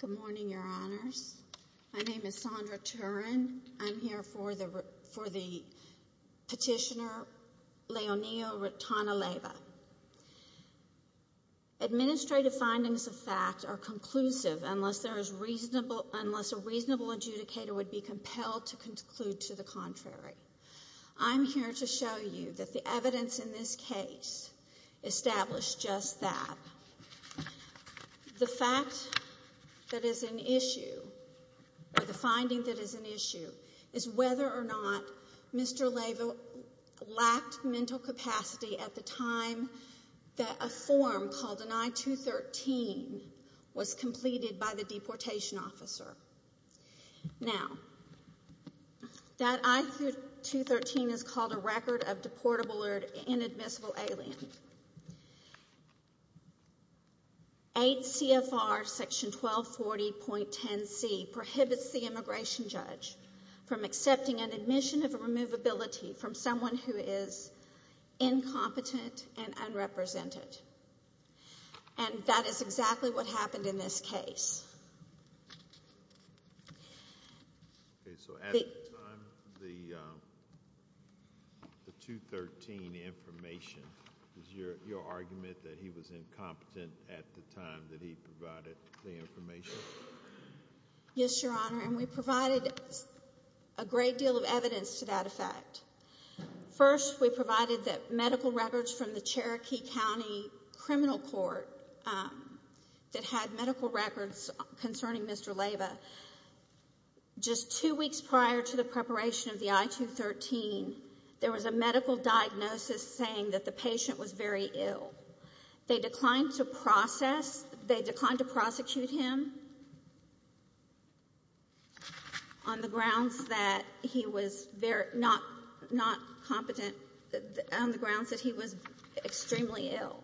Good morning, Your Honors. My name is Sondra Turin. I'm here for the Petitioner Leonilo Retana Leyva. Administrative findings of fact are conclusive unless a reasonable adjudicator would be compelled to conclude to the contrary. I'm here to show you that the evidence in this case established just that. The fact that is an issue, or the finding that is an that a form called an I-213 was completed by the deportation officer. Now, that I-213 is called a record of deportable or inadmissible alien. 8 CFR section 1240.10C prohibits the unrepresented. And that is exactly what happened in this case. Okay, so at the time, the 213 information, is your argument that he was incompetent at the time that he provided the information? Yes, Your Honor, and we provided a great deal of evidence to that effect. First, we provided that medical records from the Cherokee County Criminal Court that had medical records concerning Mr. Leyva. Just two weeks prior to the preparation of the I-213, there was a medical diagnosis saying that the patient was very ill. They declined to process, they on the grounds that he was extremely ill.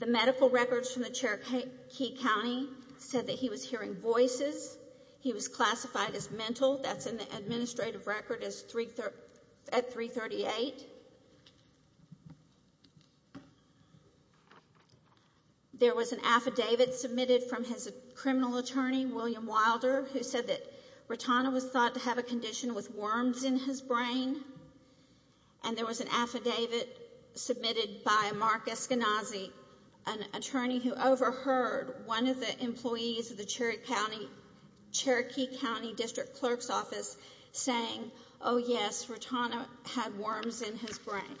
The medical records from the Cherokee County said that he was hearing voices. He was classified as mental. That's in the administrative record at 338. There was an affidavit submitted from his criminal attorney, William Wilder, who And there was an affidavit submitted by Mark Eskenazi, an attorney who overheard one of the employees of the Cherokee County District Clerk's Office saying, oh yes, Rotana had worms in his brain.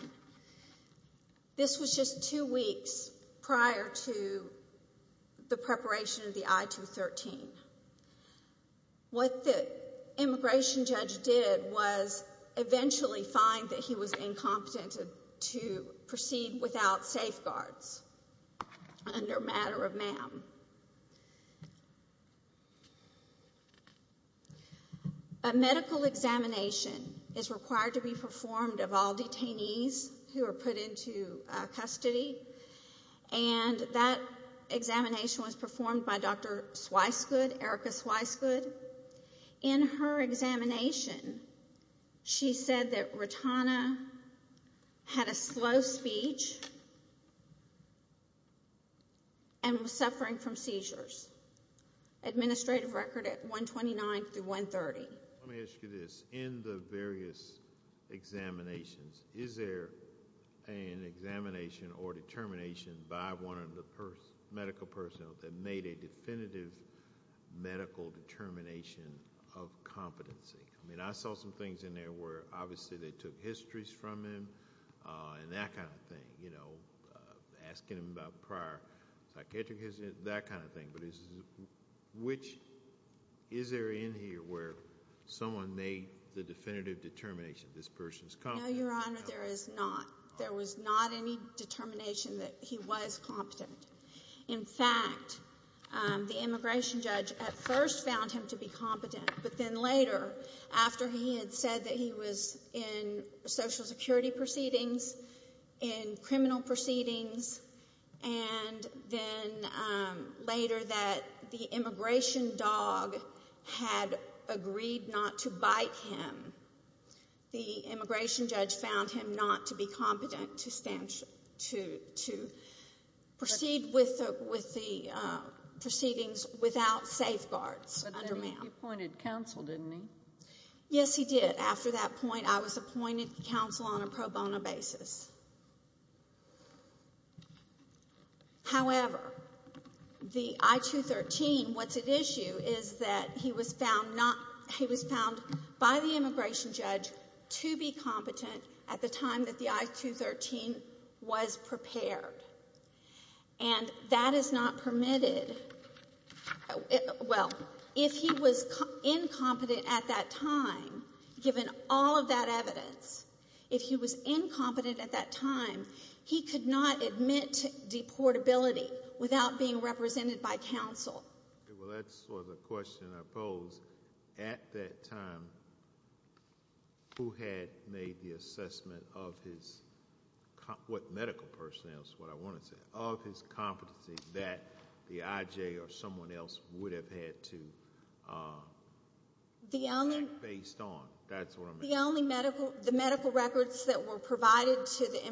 This was just two weeks prior to the preparation of the I-213. What the immigration judge did was eventually find that he was incompetent to proceed without safeguards under matter of MAM. A medical examination is required to be performed of all detainees who are put into custody, and that examination was performed by Dr. Sweiskud, Erica Sweiskud. In her examination, she said that Rotana had a slow speech and was suffering from seizures. Administrative record at 129 through 130. Let me ask you this. In the various examinations, is there an examination or determination by one of the medical personnel that made a definitive medical determination of competency? I mean, I saw some things in there where obviously they took histories from him and that kind of thing, you know, asking him about prior psychiatric history, that kind of thing. But which, is there in here where someone made the definitive determination, this person's competent? No, Your Honor, there is not. There was not any at first found him to be competent, but then later, after he had said that he was in Social Security proceedings, in criminal proceedings, and then later that the immigration dog had agreed not to bite him, the immigration judge found him not to be competent to stand, to proceed with the proceedings without safeguards. But then he appointed counsel, didn't he? Yes, he did. After that point, I was appointed counsel on a pro bono basis. However, the I-213, what's at issue is that he was found not, he was found by the immigration judge to be competent at the time that the I-213 was prepared. And that is not permitted, well, if he was incompetent at that time, given all of that evidence, if he was incompetent at that time, he could not admit deportability without being represented by counsel. Well, that's sort of the question I pose. At that time, who had made the assessment of his, what medical personnel, is what I want to say, of his competency that the IJ or someone else would have had to act based on? The only medical, the medical records that were provided to the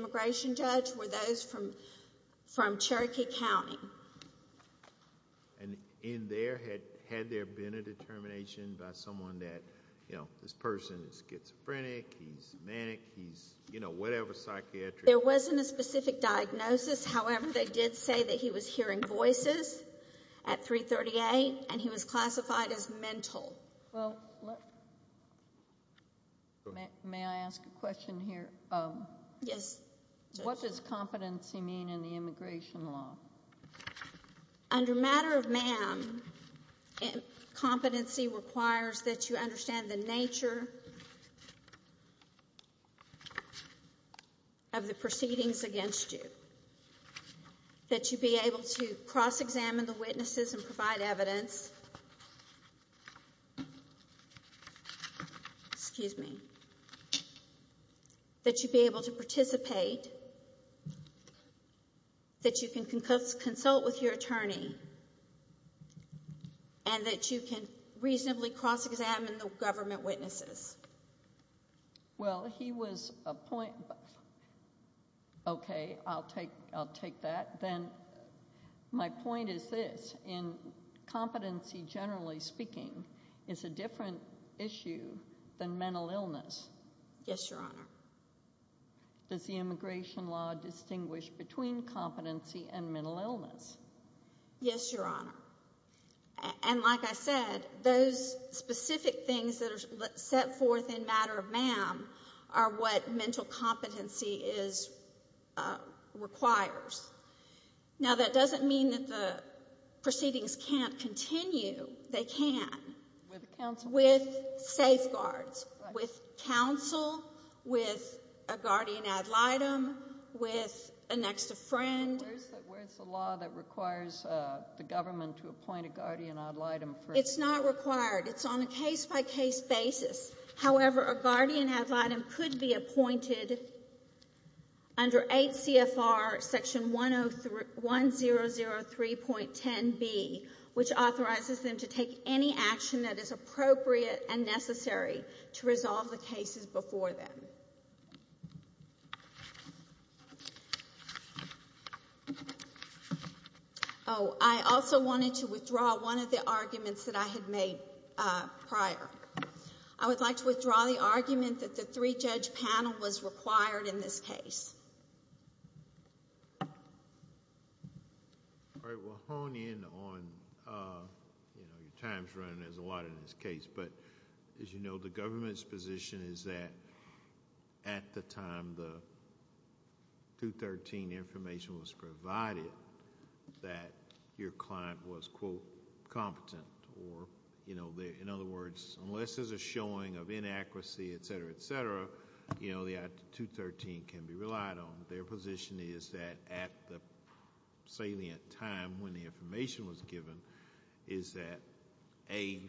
in there had, had there been a determination by someone that, you know, this person is schizophrenic, he's manic, he's, you know, whatever psychiatry. There wasn't a specific diagnosis. However, they did say that he was hearing voices at 338 and he was classified as mental. Well, may I ask a question here? Yes. What does competency mean in the immigration law? Under matter of MAM, competency requires that you understand the nature of the proceedings against you, that you be able to cross-examine the witnesses and provide evidence, excuse me, that you be able to participate, that you can consult with your attorney, and that you can reasonably cross-examine the government witnesses. Well, he was a point, okay, I'll take, I'll take that. Then my point is this, in competency, generally speaking, is a different issue than mental illness. Yes, Your Honor. Does the immigration law distinguish between competency and mental illness? Yes, Your Honor. And like I said, those specific things that are set forth in matter of MAM are what mental competency is, requires. Now, that doesn't mean that the proceedings can't continue. They can. With counsel? With safeguards, with counsel, with a guardian ad litem, with an extra friend. Where's the law that requires the government to appoint a guardian ad litem? It's not required. It's on a case-by-case basis. However, a guardian ad litem could be to take any action that is appropriate and necessary to resolve the cases before them. Oh, I also wanted to withdraw one of the arguments that I had made prior. I would like to withdraw the argument that the three-judge panel was required in this case. All right. We'll hone in on your time's running. There's a lot in this case. As you know, the government's position is that at the time the 213 information was provided, that your client was, quote, competent. In other words, unless there's a showing of inaccuracy, et cetera, et cetera, the 213 can be relied on. Their position is that at the salient time when the information was given, is that A,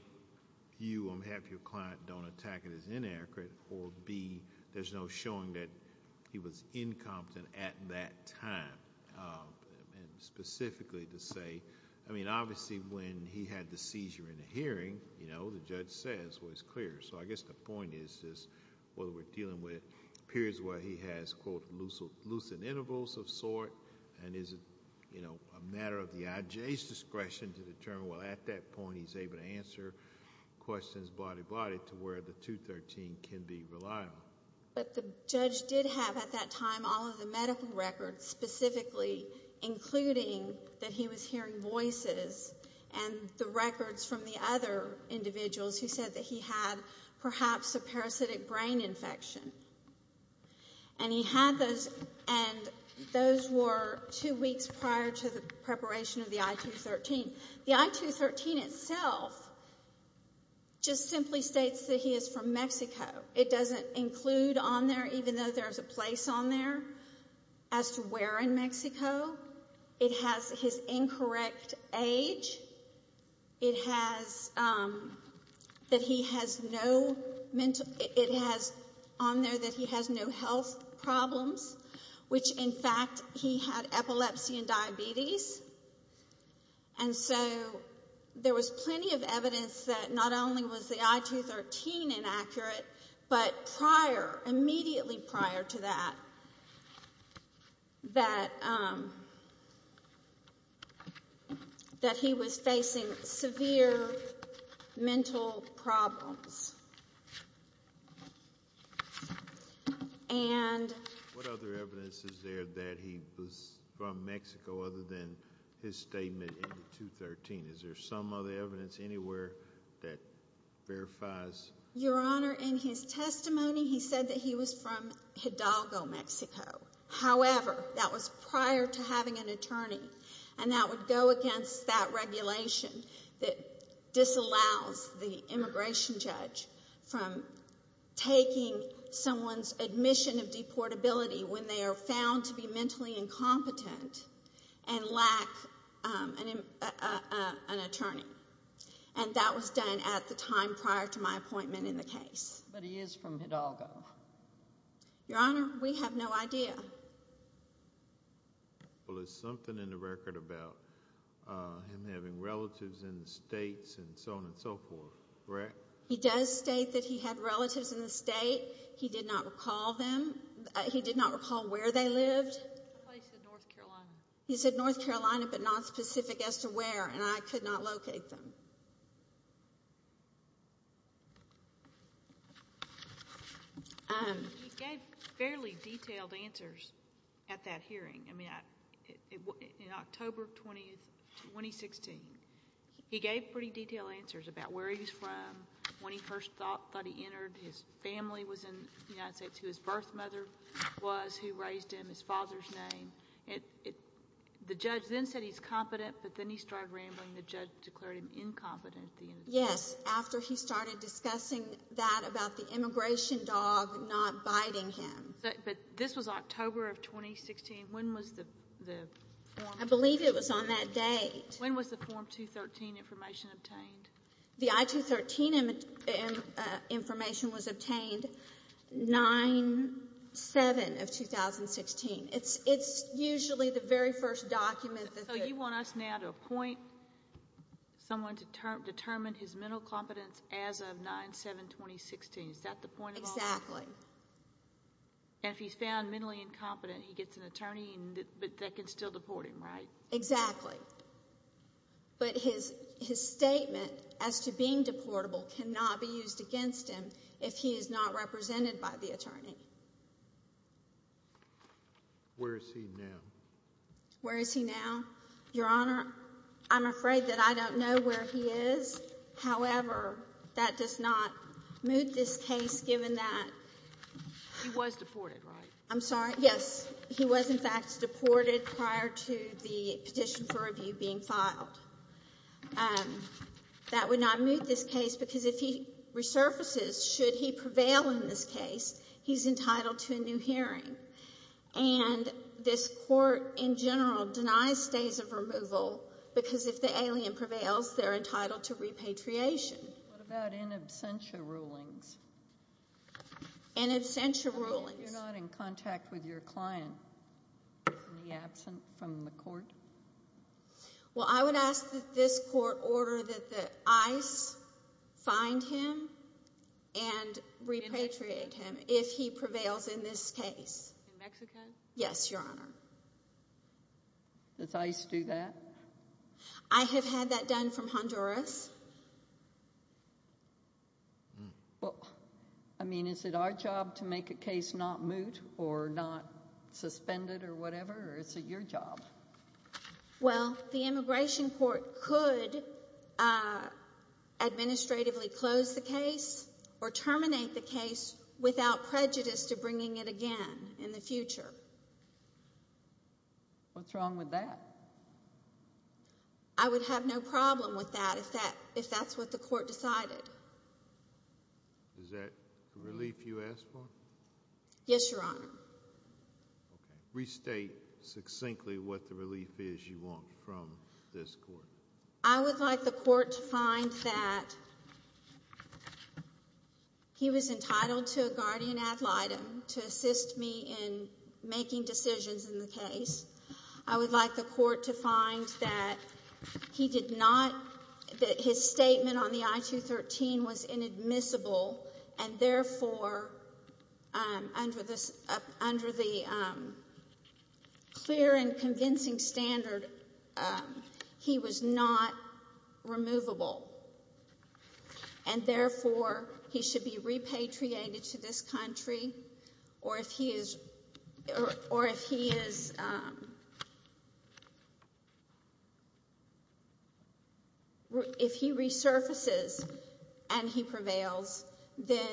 you will have your client don't attack it as inaccurate, or B, there's no showing that he was incompetent at that time. Specifically to say... I mean, obviously, when he had the seizure in the hearing, the judge says was clear. I guess the point is whether we're dealing with periods where he has, quote, lucid intervals of sort, and is it a matter of the IJ's discretion to determine, well, at that point, he's able to answer questions body-to-body to where the 213 can be relied on. But the judge did have at that time all of the medical records specifically, including that he was hearing voices and the types of parasitic brain infection. And he had those, and those were two weeks prior to the preparation of the I213. The I213 itself just simply states that he is from Mexico. It doesn't include on there, even though there's a place on there, as to where in Mexico. It has his incorrect age. It has, that he has no mental, it has on there that he has no health problems, which, in fact, he had epilepsy and diabetes. And so there was plenty of evidence that not only was the I213 inaccurate, but prior, immediately prior to that, that he was facing severe mental problems. And what other evidence is there that he was from Mexico other than his statement in the 213? Is Your Honor, in his testimony, he said that he was from Hidalgo, Mexico. However, that was prior to having an attorney, and that would go against that regulation that disallows the immigration judge from taking someone's admission of deportability when they are found to be mentally incompetent and lack an attorney. And that was done at the time prior to my appointment in the case. But he is from Hidalgo. Your Honor, we have no idea. Well, there's something in the record about him having relatives in the states and so on and so forth, correct? He does state that he had relatives in the state. He did not recall them. He did not recall where they lived. He said North Carolina, but not specific as to where, and I could not locate them. He gave fairly detailed answers at that hearing. I mean, in October 20, 2016, he gave pretty detailed answers about where he's from, when he first thought he entered, his family was in the United States, who his birth mother was, who raised him, his father's name. The judge then said he's competent, but then he started rambling. The judge declared him incompetent. Yes, after he started discussing that about the immigration dog not biting him. But this was October of 2016. When was the form? I believe it was on that date. When was the Form 213 information obtained? The I-213 information was obtained 9-7 of 2016. It's usually the very first document. So you want us now to appoint someone to determine his mental competence as of 9-7-2016. Is that the point of all this? Exactly. And if he's found mentally incompetent, he gets an attorney that can still deport him, right? Exactly. But his statement as to being deportable cannot be used against him if he is not represented by the attorney. Where is he now? Where is he now? Your Honor, I'm afraid that I don't know where he is. However, that does not moot this case, given that he was deported, right? I'm sorry. Yes, he was in fact deported prior to the petition for review being filed. That would not moot this case because if he resurfaces, should he prevail in this case, he's entitled to a new hearing. And this court in general denies stays of removal because if the alien prevails, they're entitled to repatriation. What about in absentia rulings? In absentia rulings? You're not in contact with your client in the absence from the court? Well, I would ask that this court order that the ICE find him and repatriate him if he prevails in this case. In Mexico? Yes, Your Honor. Does ICE do that? I have had that done from Honduras. Well, I mean, is it our job to make a case not moot or not suspended or whatever? Or is it your job? Well, the immigration court could administratively close the case or terminate the case without prejudice to bringing it again in the future. What's wrong with that? I would have no problem with that if that if that's what the court decided. Is that a relief you asked for? Yes, Your Honor. Okay, restate succinctly what the relief is you want from this court. I would like the court to find that he was entitled to a guardian ad litem to assist me in making decisions in the case. I would like the court to find that he did not that his statement on the I-213 was inadmissible and therefore under this under the clear and convincing standard he was not removable and therefore he should be repatriated to this country or if he is or if he is if he resurfaces and he prevails then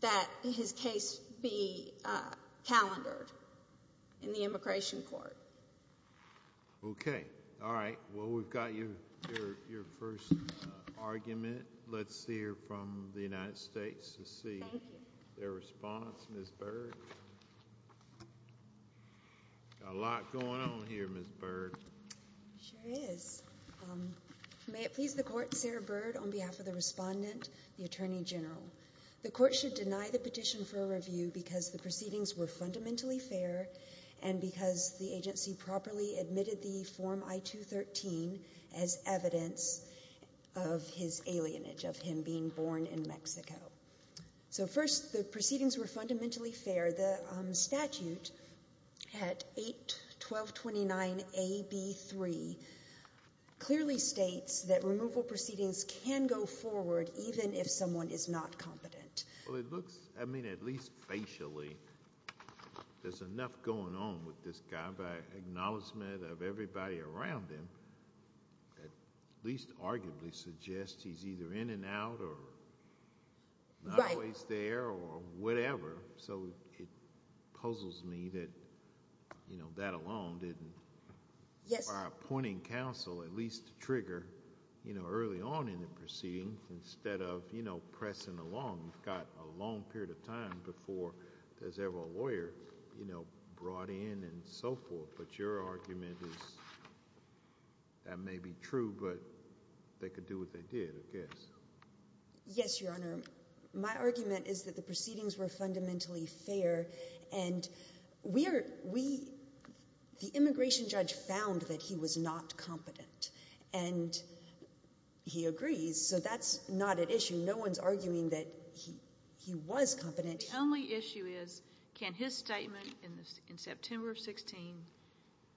that his case be calendared in the immigration court. Okay, all right. Well, we've got your your first argument. Let's hear from the United States to see their response. Ms. Byrd. A lot going on here, Ms. Byrd. Sure is. May it please the court, Sarah Byrd, on behalf of the respondent, the Attorney General. The court should deny the petition for a review because the properly admitted the form I-213 as evidence of his alienage of him being born in Mexico. So first, the proceedings were fundamentally fair. The statute at 8-1229-AB3 clearly states that removal proceedings can go forward even if someone is not competent. Well, it looks, I mean at least facially, there's enough going on with this guy by acknowledgement of everybody around him that at least arguably suggests he's either in and out or not always there or whatever. So it puzzles me that, you know, that alone didn't our appointing counsel at least trigger, you know, early on in the proceedings instead of, you know, pressing along. You've got a long period of time before there's ever a lawyer, you know, brought in and so forth. But your argument is that may be true, but they could do what they did, I guess. Yes, Your Honor. My argument is that the proceedings were fundamentally fair and we are, we, the immigration judge found that he was not competent and he agrees. So that's not an issue. No one's arguing that he was competent. The only issue is can his statement in September of 16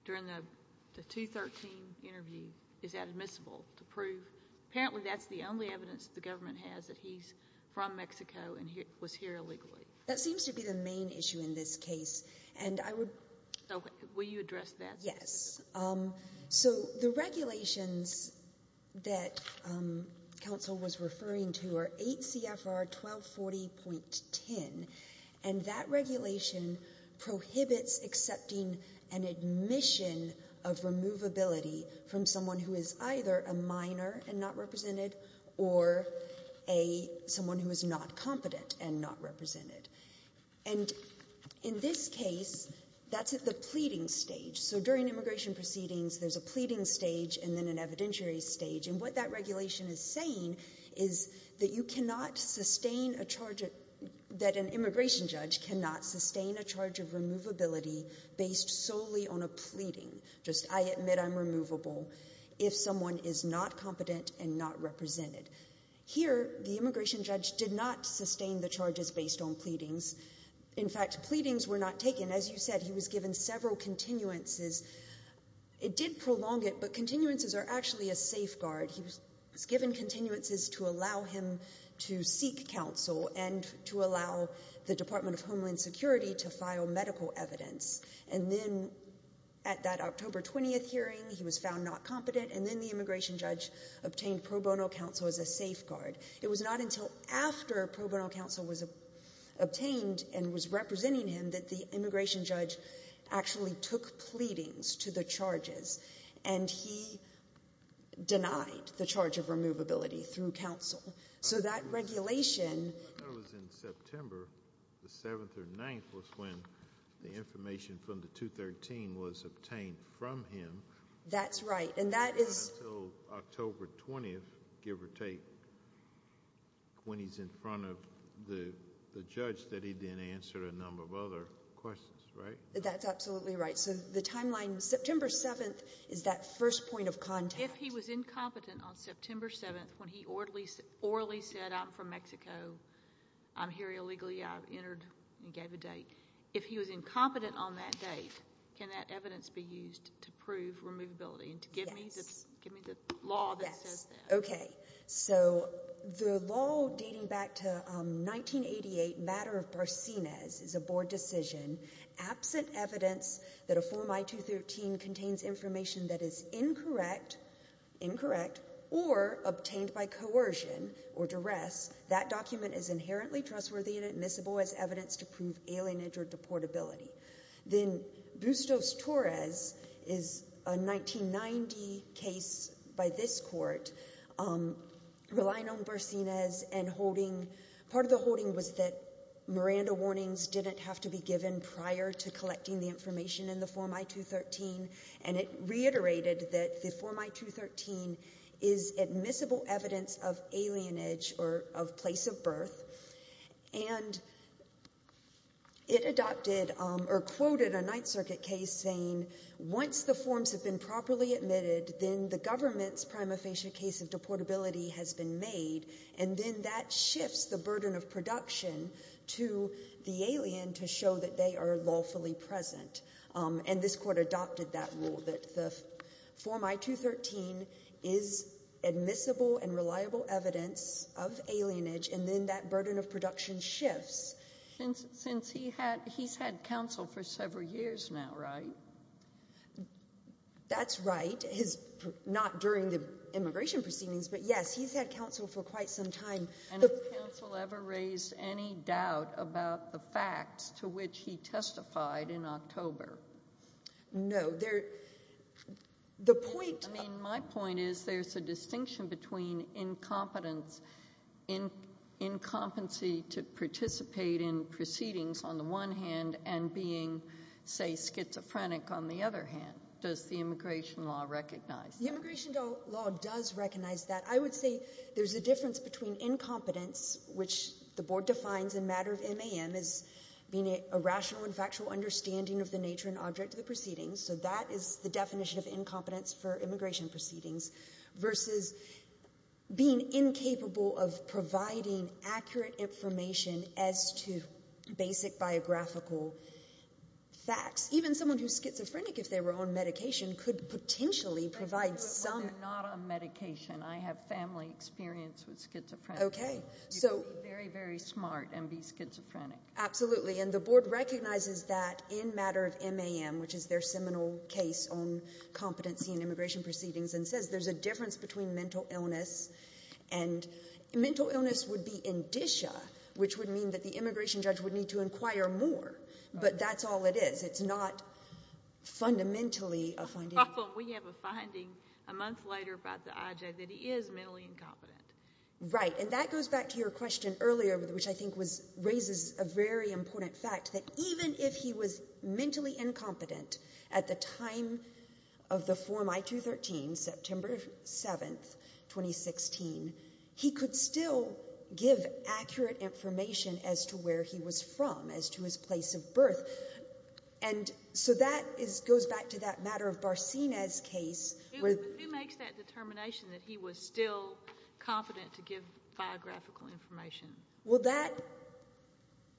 during the 213 interview, is that admissible to prove? Apparently that's the only evidence the government has that he's from Mexico and he was here illegally. That seems to be the main issue in this case and I would... So will you address that? Yes. So the regulations that counsel was referring to are 8 CFR 1240.10 and that regulation prohibits accepting an admission of removability from someone who is either a minor and not represented or a someone who is not competent and not represented. And in this case, that's at the pleading stage. So during immigration proceedings, there's a pleading stage and then an evidentiary stage. And what that regulation is saying is that you cannot sustain a charge, that an immigration judge cannot sustain a charge of removability based solely on a pleading. Just I admit I'm removable if someone is not competent and not represented. Here, the immigration judge did not sustain the charges based on pleadings. In fact, pleadings were not taken. As you said, he was given several continuances it did prolong it but continuances are actually a safeguard. He was given continuances to allow him to seek counsel and to allow the Department of Homeland Security to file medical evidence. And then at that October 20th hearing, he was found not competent and then the immigration judge obtained pro bono counsel as a safeguard. It was not until after pro bono counsel was obtained and was representing him that the immigration judge actually took pleadings to the charges and he denied the charge of removability through counsel. So that regulation... I thought it was in September, the 7th or 9th was when the information from the 213 was obtained from him. That's right. And that is... In front of the judge that he then answered a number of other questions, right? That's absolutely right. So the timeline September 7th is that first point of contact. If he was incompetent on September 7th when he orally said I'm from Mexico, I'm here illegally, I've entered and gave a date. If he was incompetent on that date, can that evidence be used to prove removability and to give me the law that says that? Okay. So the law dating back to 1988 matter of Barsines is a board decision. Absent evidence that a form I-213 contains information that is incorrect or obtained by coercion or duress, that document is inherently trustworthy and admissible as evidence to prove alienage or And it reiterated that the form I-213 is admissible evidence of alienage or of place of birth. And it adopted or quoted a Ninth Circuit case saying once the forms have been properly admitted, then the government's prima facie case of deportability has been made. And then that shifts the burden of production to the alien to show that they are lawfully present. And this court adopted that rule that the form I-213 is admissible and reliable evidence of alienage. And then that burden of production shifts. Since he's had counsel for several years now, right? That's right. Not during the immigration proceedings, but yes, he's had counsel for quite some time. And has counsel ever raised any doubt about the facts to which he testified in October? No. There, the point. I mean, my point is there's a distinction between incompetence, in incompetency to participate in proceedings on the one hand and being, say, schizophrenic on the other hand. Does the immigration law recognize that? The immigration law does recognize that. I would say there's a difference between incompetence, which the board defines in matter of MAM as being a rational and factual understanding of the nature and object of the proceedings. So that is the definition of incompetence for immigration proceedings versus being incapable of providing accurate information as to basic biographical facts. Even someone who's schizophrenic, if they were on medication, could potentially provide some. But they're not on medication. I have family experience with schizophrenia. Okay. So. You could be very, very smart and be schizophrenic. Absolutely. And the board recognizes that in matter of MAM, which is their seminal case on MAM, there's a difference between mental illness. And mental illness would be indicia, which would mean that the immigration judge would need to inquire more. But that's all it is. It's not fundamentally a finding. We have a finding a month later about the IJ that he is mentally incompetent. Right. And that goes back to your question earlier, which I think was, raises a very important fact that even if he was mentally incompetent at the time of the form I-213, September 7th, 2016, he could still give accurate information as to where he was from, as to his place of birth. And so that is, goes back to that matter of Barcenas case. Who makes that determination that he was still confident to give biographical information? Well, that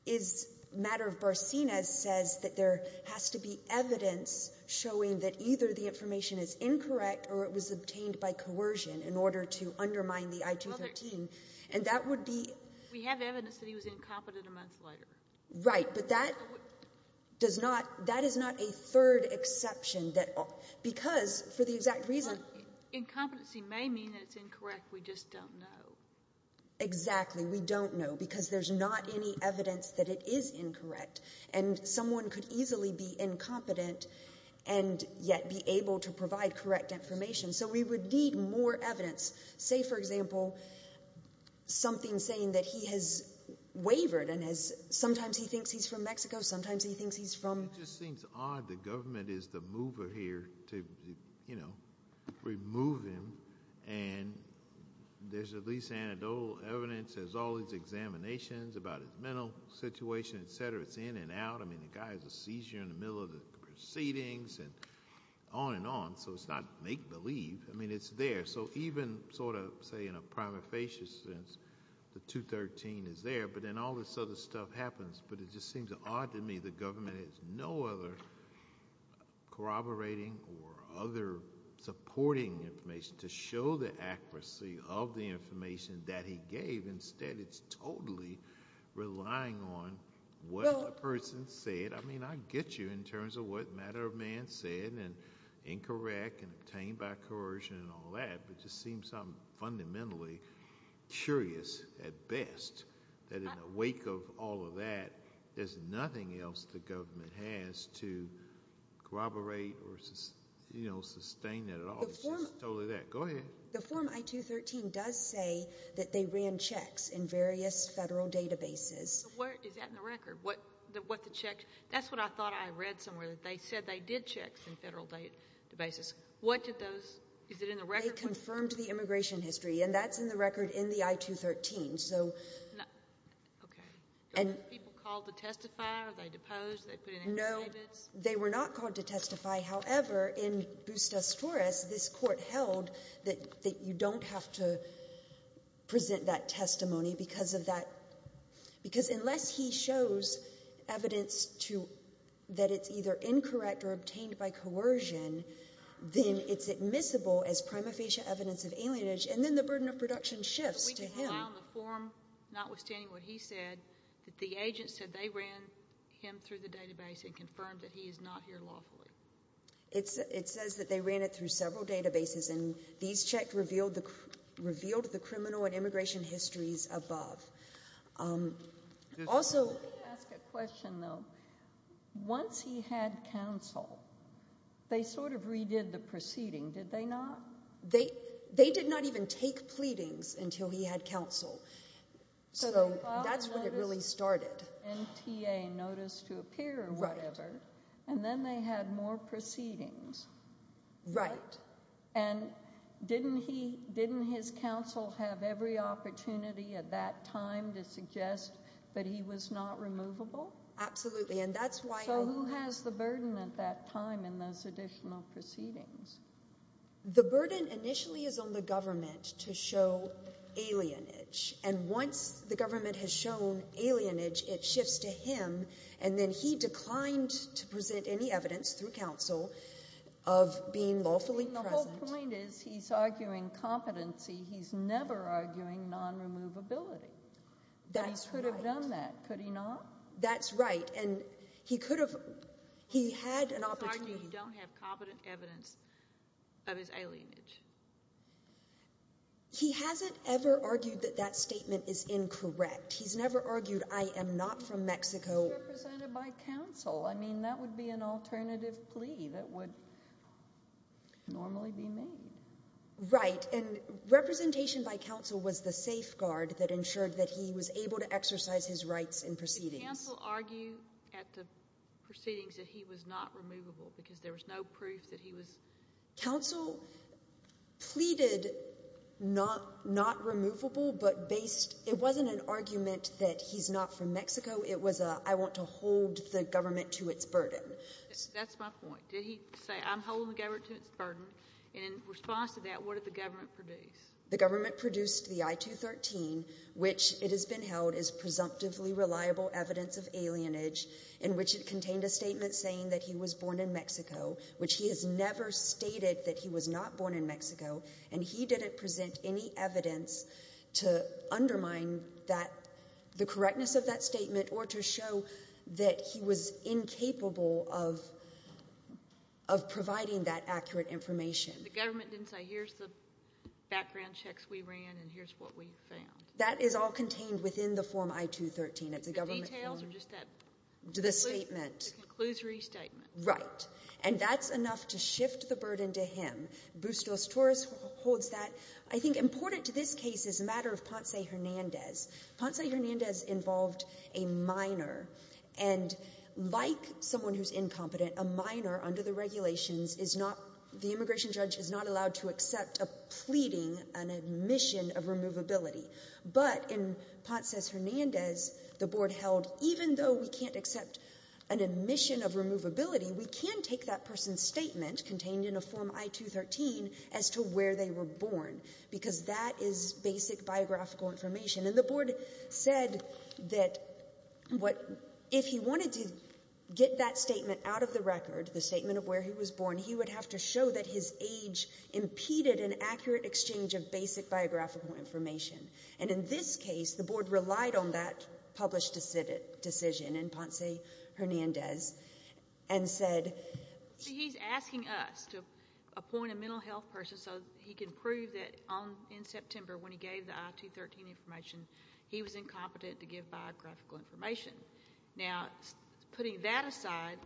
is matter of Barcenas says that there has to be evidence showing that either the information is incorrect or it was obtained by coercion in order to undermine the I-213. And that would be. We have evidence that he was incompetent a month later. Right. But that does not, that is not a third exception that, because for the exact reason. Incompetency may mean that it's incorrect. We just don't know. Exactly. We don't know because there's not any evidence that it is incorrect and someone could easily be incompetent and yet be able to provide correct information. So we would need more evidence. Say, for example, something saying that he has wavered and has, sometimes he thinks he's from Mexico. Sometimes he thinks he's from. It just seems odd. The government is the mover here to, you know, remove him. And there's at least anecdotal evidence as all these examinations about his mental situation, et cetera. It's in and out. I mean, the guy has a seizure in the middle of the proceedings and on and on. So it's not make believe. I mean, it's there. So even sort of say in a prima facie since the 213 is there, but then all this other stuff happens, but it just seems odd to me. The government has no other corroborating or other supporting information to show the accuracy of the information that he gave. Instead, it's totally relying on what a person said. I mean, I get you in terms of what matter of man said and incorrect and obtained by coercion and all that, but it just seems I'm fundamentally curious at best that in the wake of all of that, there's nothing else the government has to corroborate or sustain that at all. It's just totally that. Go ahead. The form I-213 does say that they ran checks in various federal databases. Is that in the record? That's what I thought I read somewhere that they said they did checks in federal databases. Is it in the record? They confirmed the immigration history, and that's in the record in the I-213. Okay. Were people called to testify? Were they deposed? Did they put in any statements? No, they were not called to testify. However, in Bustos-Torres, this court held that you don't have to present that testimony because unless he shows evidence that it's either incorrect or obtained by coercion, then it's admissible as prima facie evidence of alienage, and then the burden of form, notwithstanding what he said, that the agent said they ran him through the database and confirmed that he is not here lawfully. It says that they ran it through several databases, and these checks revealed the criminal and immigration histories above. Also- Let me ask a question, though. Once he had counsel, they sort of redid the proceeding, did they not? They did not even take pleadings until he had counsel, so that's when it really started. NTA, Notice to Appear or whatever, and then they had more proceedings. Right. And didn't his counsel have every opportunity at that time to suggest that he was not removable? Absolutely, and that's why- So who has the burden at that time in those additional proceedings? The burden initially is on the government to show alienage, and once the government has shown alienage, it shifts to him, and then he declined to present any evidence through counsel of being lawfully present. The whole point is he's arguing competency, he's never arguing non-removability. That's right. He could have done that, could he not? That's right, and he could of his alienage. He hasn't ever argued that that statement is incorrect. He's never argued, I am not from Mexico. He's represented by counsel. I mean, that would be an alternative plea that would normally be made. Right, and representation by counsel was the safeguard that ensured that he was able to exercise his rights in proceedings. Did counsel argue at the proceedings that he was not removable because there was no proof that he was- Counsel pleaded not removable, but based, it wasn't an argument that he's not from Mexico. It was a, I want to hold the government to its burden. That's my point. Did he say, I'm holding the government to its burden, and in response to that, what did the government produce? The government produced the I-213, which it has been held is presumptively reliable evidence of alienage, in which it contained a that he was born in Mexico, which he has never stated that he was not born in Mexico, and he didn't present any evidence to undermine that, the correctness of that statement, or to show that he was incapable of providing that accurate information. The government didn't say, here's the background checks we ran, and here's what we found. That is all contained within the Right. And that's enough to shift the burden to him. Bustos-Torres holds that. I think important to this case is a matter of Ponce Hernandez. Ponce Hernandez involved a minor, and like someone who's incompetent, a minor under the regulations is not, the immigration judge is not allowed to accept a pleading, an admission of removability. But in Ponce Hernandez, the board held, even though we can't accept an admission of removability, we can take that person's statement contained in a Form I-213 as to where they were born, because that is basic biographical information. And the board said that what, if he wanted to get that statement out of the record, the statement of where he was born, he would have to show that his age impeded an published decision in Ponce Hernandez and said... He's asking us to appoint a mental health person so he can prove that in September, when he gave the I-213 information, he was incompetent to give biographical information. Now, putting that aside,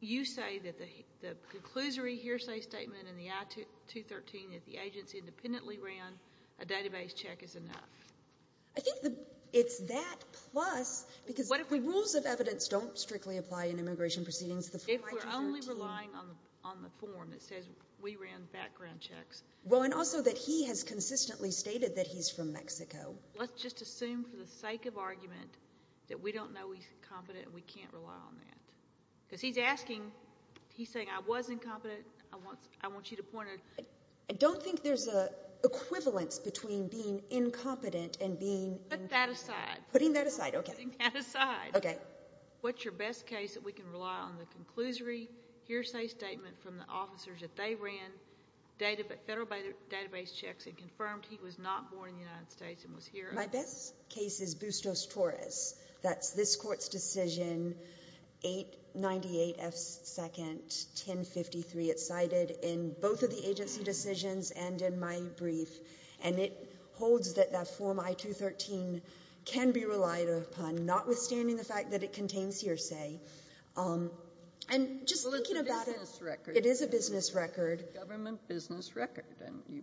you say that the conclusory hearsay statement in the I-213 that the agency independently ran a database check is enough. I think it's that plus, because the rules of evidence don't strictly apply in immigration proceedings. If we're only relying on the form that says we ran background checks... Well, and also that he has consistently stated that he's from Mexico. Let's just assume for the sake of argument that we don't know he's competent, we can't rely on that. Because he's asking, he's saying I was the equivalence between being incompetent and being... Put that aside. Putting that aside, okay. Putting that aside. Okay. What's your best case that we can rely on the conclusory hearsay statement from the officers that they ran federal database checks and confirmed he was not born in the United States and was here... My best case is Bustos-Torres. That's this court's decision, 898 F. 2nd, 1053. It's cited in both of the agency decisions and in my brief. And it holds that that Form I-213 can be relied upon, notwithstanding the fact that it contains hearsay. And just looking about it... Well, it's a business record. It is a business record. Government business record.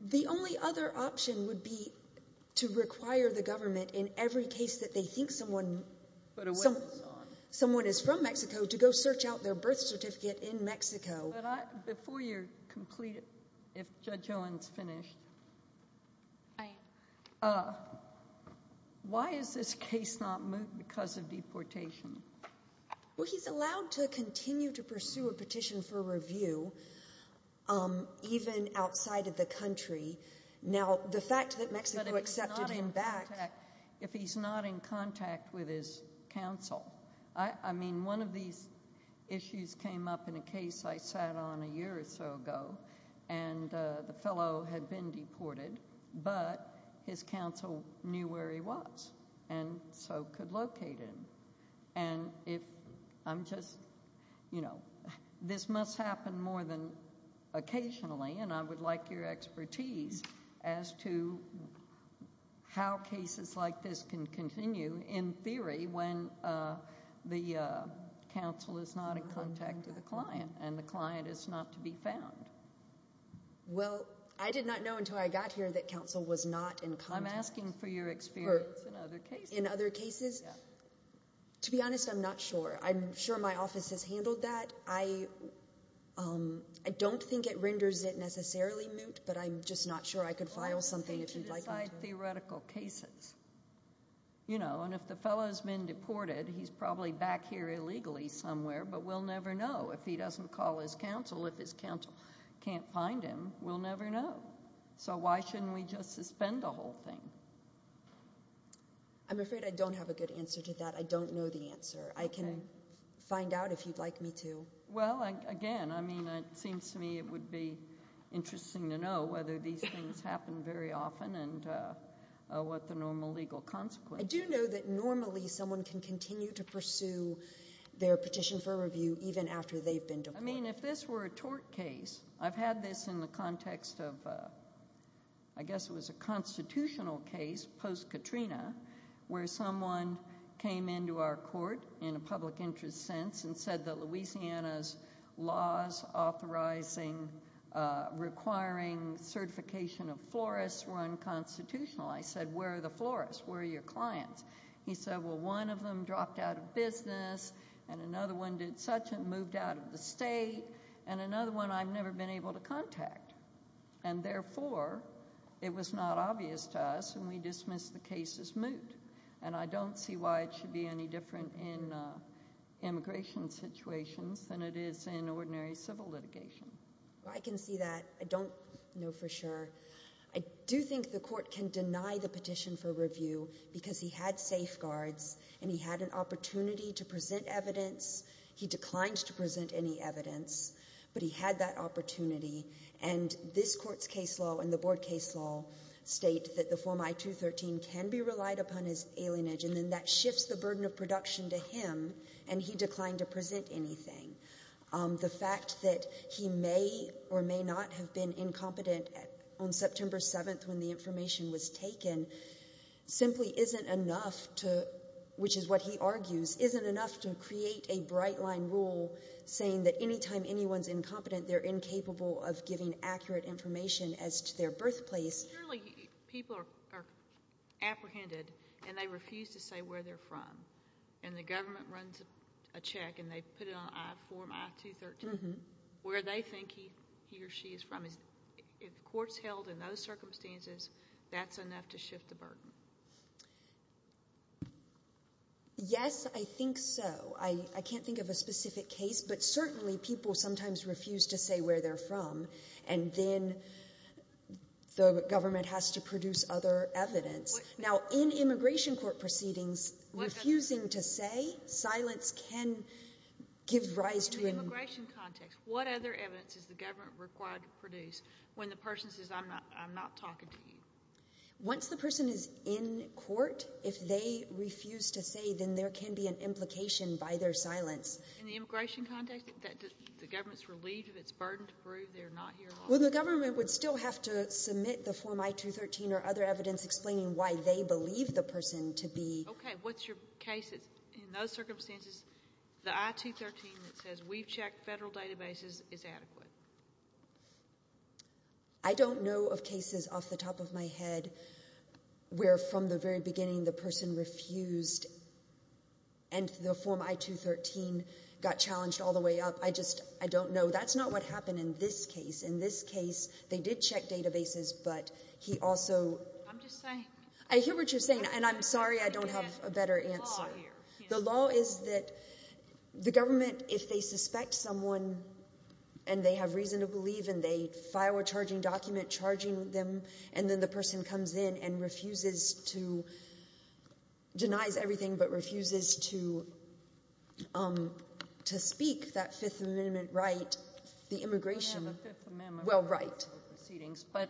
The only other option would be to require the government in every case that they think someone... Put a witness on. Someone is from Mexico to go search out their birth certificate in Mexico. Before you're completed, if Judge Owens finished, why is this case not moved because of deportation? Well, he's allowed to continue to accept him back. But if he's not in contact with his counsel... I mean, one of these issues came up in a case I sat on a year or so ago, and the fellow had been deported, but his counsel knew where he was and so could locate him. And if I'm just... This must happen more than occasionally, and I would like your expertise as to how cases like this can continue in theory when the counsel is not in contact with the client and the client is not to be found. Well, I did not know until I got here that counsel was not in contact. I'm asking for your experience in other cases. In other cases? To be honest, I'm not sure. I'm sure my office has handled that. I don't think it renders it necessarily moot, but I'm just not sure I could file something if you'd like me to. Well, I would think to decide theoretical cases. And if the fellow has been deported, he's probably back here illegally somewhere, but we'll never know. If he doesn't call his counsel, if his counsel can't find him, we'll never know. So why shouldn't we just suspend the whole thing? I'm afraid I don't have a good answer to that. I don't know the answer. I can find out if you'd like me to. Well, again, I mean, it seems to me it would be interesting to know whether these things happen very often and what the normal legal consequences are. I do know that normally someone can continue to pursue their petition for review even after they've been deported. I mean, if this were a tort case, I've had this in the context of, I guess it was a constitutional case post-Katrina, where someone came into our court in a public interest sense and said that Louisiana's laws authorizing requiring certification of florists were unconstitutional. I said, where are the florists? Where are your clients? He said, well, one of them dropped out of business and another one did such and moved out of the state and another one I've never been able to contact. And therefore, it was not obvious to us and we dismissed the case as moot. And I don't see why it should be any different in immigration situations than it is in ordinary civil litigation. I can see that. I don't know for sure. I do think the court can deny the petition for review because he had safeguards and he had an opportunity to present evidence. He declined to present any evidence, but he had that opportunity. And this court's case law and the board case law state that the Form I-213 can be relied upon as alienage. And then that shifts the burden of production to him and he declined to present anything. The fact that he may or may not have been incompetent on September 7th when the information was taken simply isn't enough to, which is what he argues, isn't enough to create a bright line rule saying that anytime anyone's incompetent, they're incapable of giving accurate information as to their birthplace. Surely people are apprehended and they refuse to say where they're from. And the government runs a check and they put it on Form I-213. Where they think he or she is from, if the court's held in those circumstances, that's enough to shift the burden. Yes, I think so. I can't think of a specific case, but certainly people sometimes refuse to say where they're from and then the government has to produce other evidence. Now, in immigration court proceedings, refusing to say, silence can give rise to... What other evidence is the government required to produce when the person says I'm not talking to you? Once the person is in court, if they refuse to say, then there can be an implication by their silence. In the immigration context, the government's relieved of its burden to prove they're not here at all? Well, the government would still have to submit the Form I-213 or other evidence explaining why they believe the person to be... Okay, what's your case that's in those circumstances, the I-213 that says we've checked federal databases is adequate? I don't know of cases off the top of my head where from the very beginning the person refused and the Form I-213 got challenged all the way up. I just, I don't know. That's not what happened in this case. In this case, they did check databases, but he also... I'm just saying... I hear what you're saying and I'm sorry I don't have a better answer. The law is that the government, if they suspect someone and they have reason to believe and they file a charging document charging them and then the person comes in and refuses to, denies everything but refuses to speak that Fifth Amendment right, the immigration... We have a Fifth Amendment... Well, right. Proceedings, but...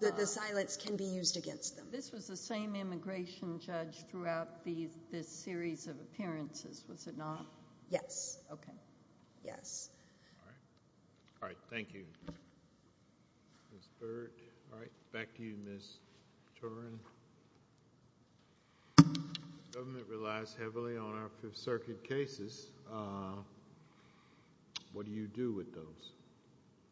That the silence can be used against them. This was the same immigration judge throughout this series of appearances, was it not? Yes. Okay. Yes. All right. All right. Thank you. Ms. Burt. All right. Back to you, Ms. Turin. The government relies heavily on our Fifth Circuit cases. What do you do with those?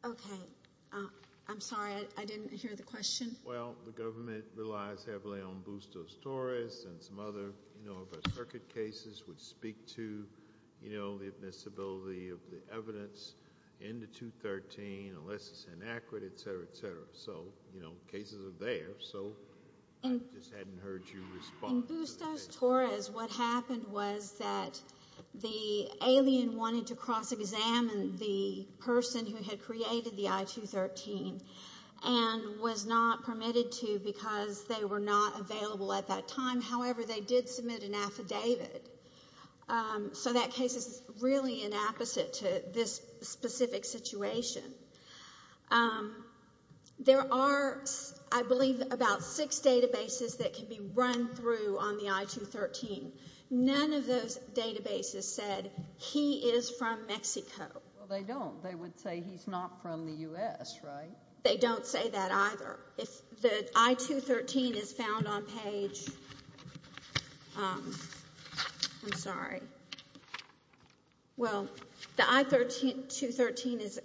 Okay. I'm sorry, I didn't hear the question. Well, the government relies heavily on Bustos-Torres and some other, you know, of our circuit cases which speak to, you know, the admissibility of the evidence in the 213, unless it's inaccurate, etc., etc. So, you know, cases are there, so I just hadn't heard you respond. In Bustos-Torres, what happened was that the alien wanted to submit an affidavit to the person who had created the I-213 and was not permitted to because they were not available at that time. However, they did submit an affidavit, so that case is really an opposite to this specific situation. There are, I believe, about six databases that can be run through on the I-213. None of those databases said he is from Mexico. Well, they don't. They would say he's not from the U.S., right? They don't say that either. If the I-213 is found on page I'm sorry. Well, the I-213 is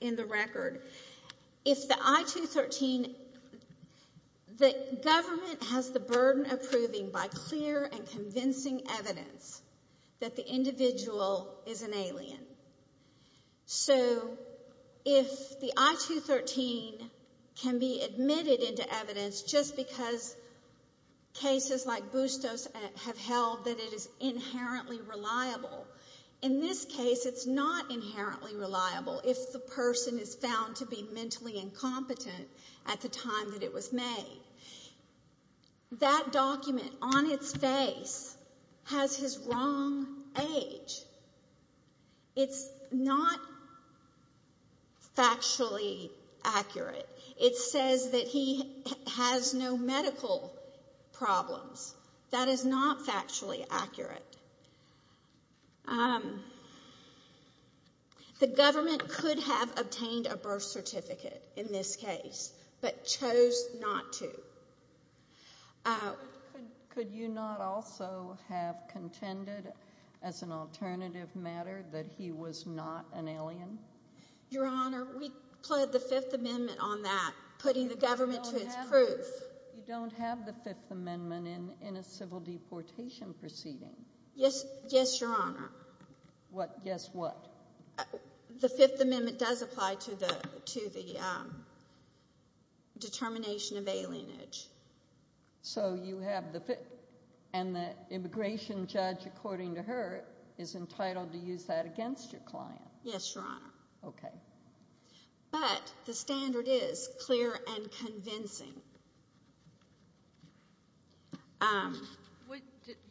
in the record. If the I-213, the government has the burden of proving by clear and convincing evidence that the individual is an alien. So, if the I-213 can be found on the I-213 because cases like Bustos have held that it is inherently reliable. In this case, it's not inherently reliable if the person is found to be mentally incompetent at the time that it was made. That document on its face has his wrong age. It's not factually accurate. It says that he has no medical problems. That is not factually accurate. The government could have obtained a birth certificate in this case, but chose not to. Could you not also have contended as an alternative matter that he was not an alien? Your Honor, we pled the Fifth Amendment on that, putting the government to its proof. You don't have the Fifth Amendment in a civil deportation proceeding? Yes, Your Honor. Guess what? The Fifth Amendment does apply to the determination of alienage. And the immigration judge, according to her, is entitled to use that against your client? Yes, Your Honor. Okay. But the standard is clear and convincing.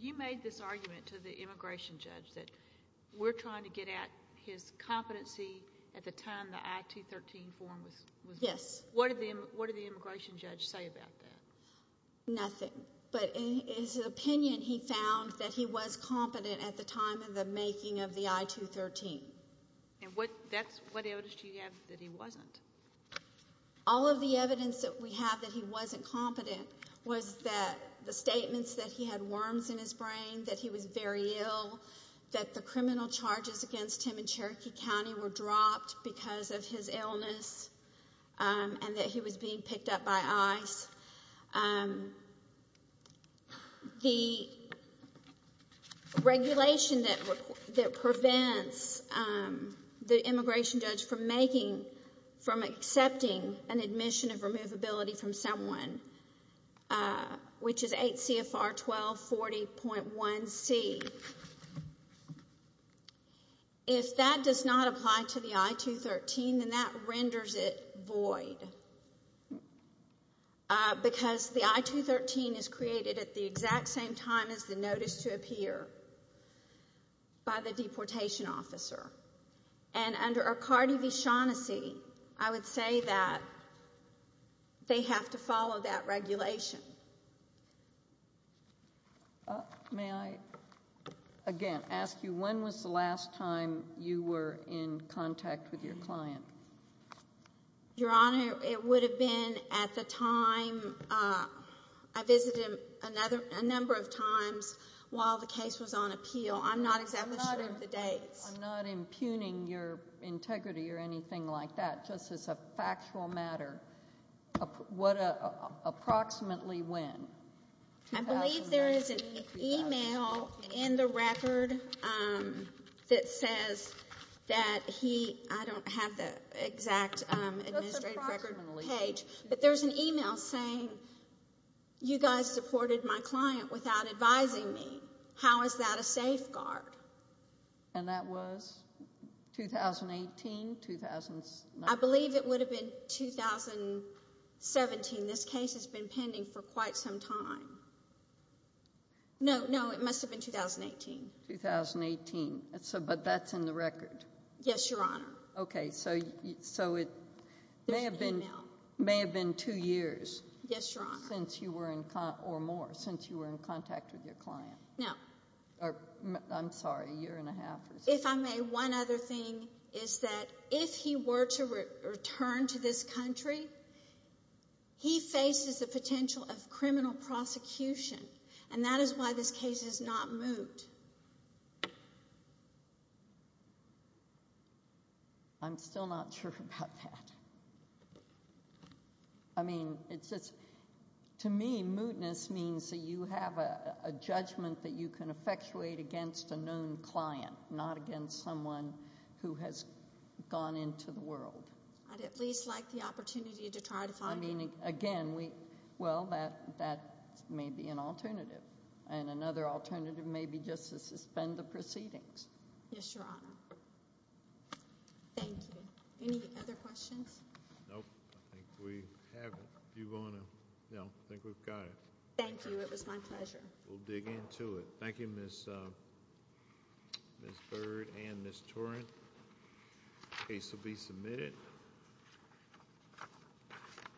You made this argument to the immigration judge that we're trying to get at his competency at the time the I-213 form was made. Yes. What did the immigration judge say about that? Nothing. But in his opinion, he found that he was competent at the time of the making of the I-213. And what evidence do you have that he wasn't? All of the evidence that we have that he wasn't competent was that the statements that he had worms in his brain, that he was very ill, that the criminal charges against him in Cherokee County were dropped because of his illness, and that he was being picked up by ICE. The regulation that prevents the immigration judge from accepting an admission of removability from someone, which is 8 CFR 1240.1C, if that does not apply to the I-213, then that renders it void. Because the I-213 is created at the exact same time as the notice to appear by the deportation officer. And under Arcardi v. Shaughnessy, I would say that they have to follow that regulation. May I again ask you, when was the last time you were in contact with your client? Your Honor, it would have been at the time, I visited him a number of times while the case was on appeal. I'm not exactly sure of the dates. I'm not impugning your integrity or anything like that, just as a factual matter. Approximately when? I believe there is an email in the record that says that he, I don't have the exact administrative record page, but there's an email saying, you guys supported my client without advising me. How is that a safeguard? And that was 2018? I believe it would have been 2017. This case has been pending for quite some time. No, no, it must have been 2018. 2018, but that's in the record? Yes, Your Honor. Okay, so it may have been two years. Yes, Your Honor. Since you were in contact, or more, since you were in contact with your client. No. I'm sorry, a year and a half. If I may, one other thing is that if he were to return to this country, he faces the potential of criminal prosecution, and that is why this case is not moot. I'm still not sure about that. I mean, it's just, to me, mootness means that you have a judgment that you can effectuate against a known client, not against someone who has gone into the world. I'd at least like the opportunity to try to find him. I mean, again, well, that may be an alternative, and another alternative may be just to suspend the proceedings. Yes, Your Honor. Thank you. Any other questions? Nope, I think we have it. If you want to, no, I think we've got it. Thank you, it was my pleasure. We'll dig into it. Thank you, Ms. Byrd and Ms. Torrent.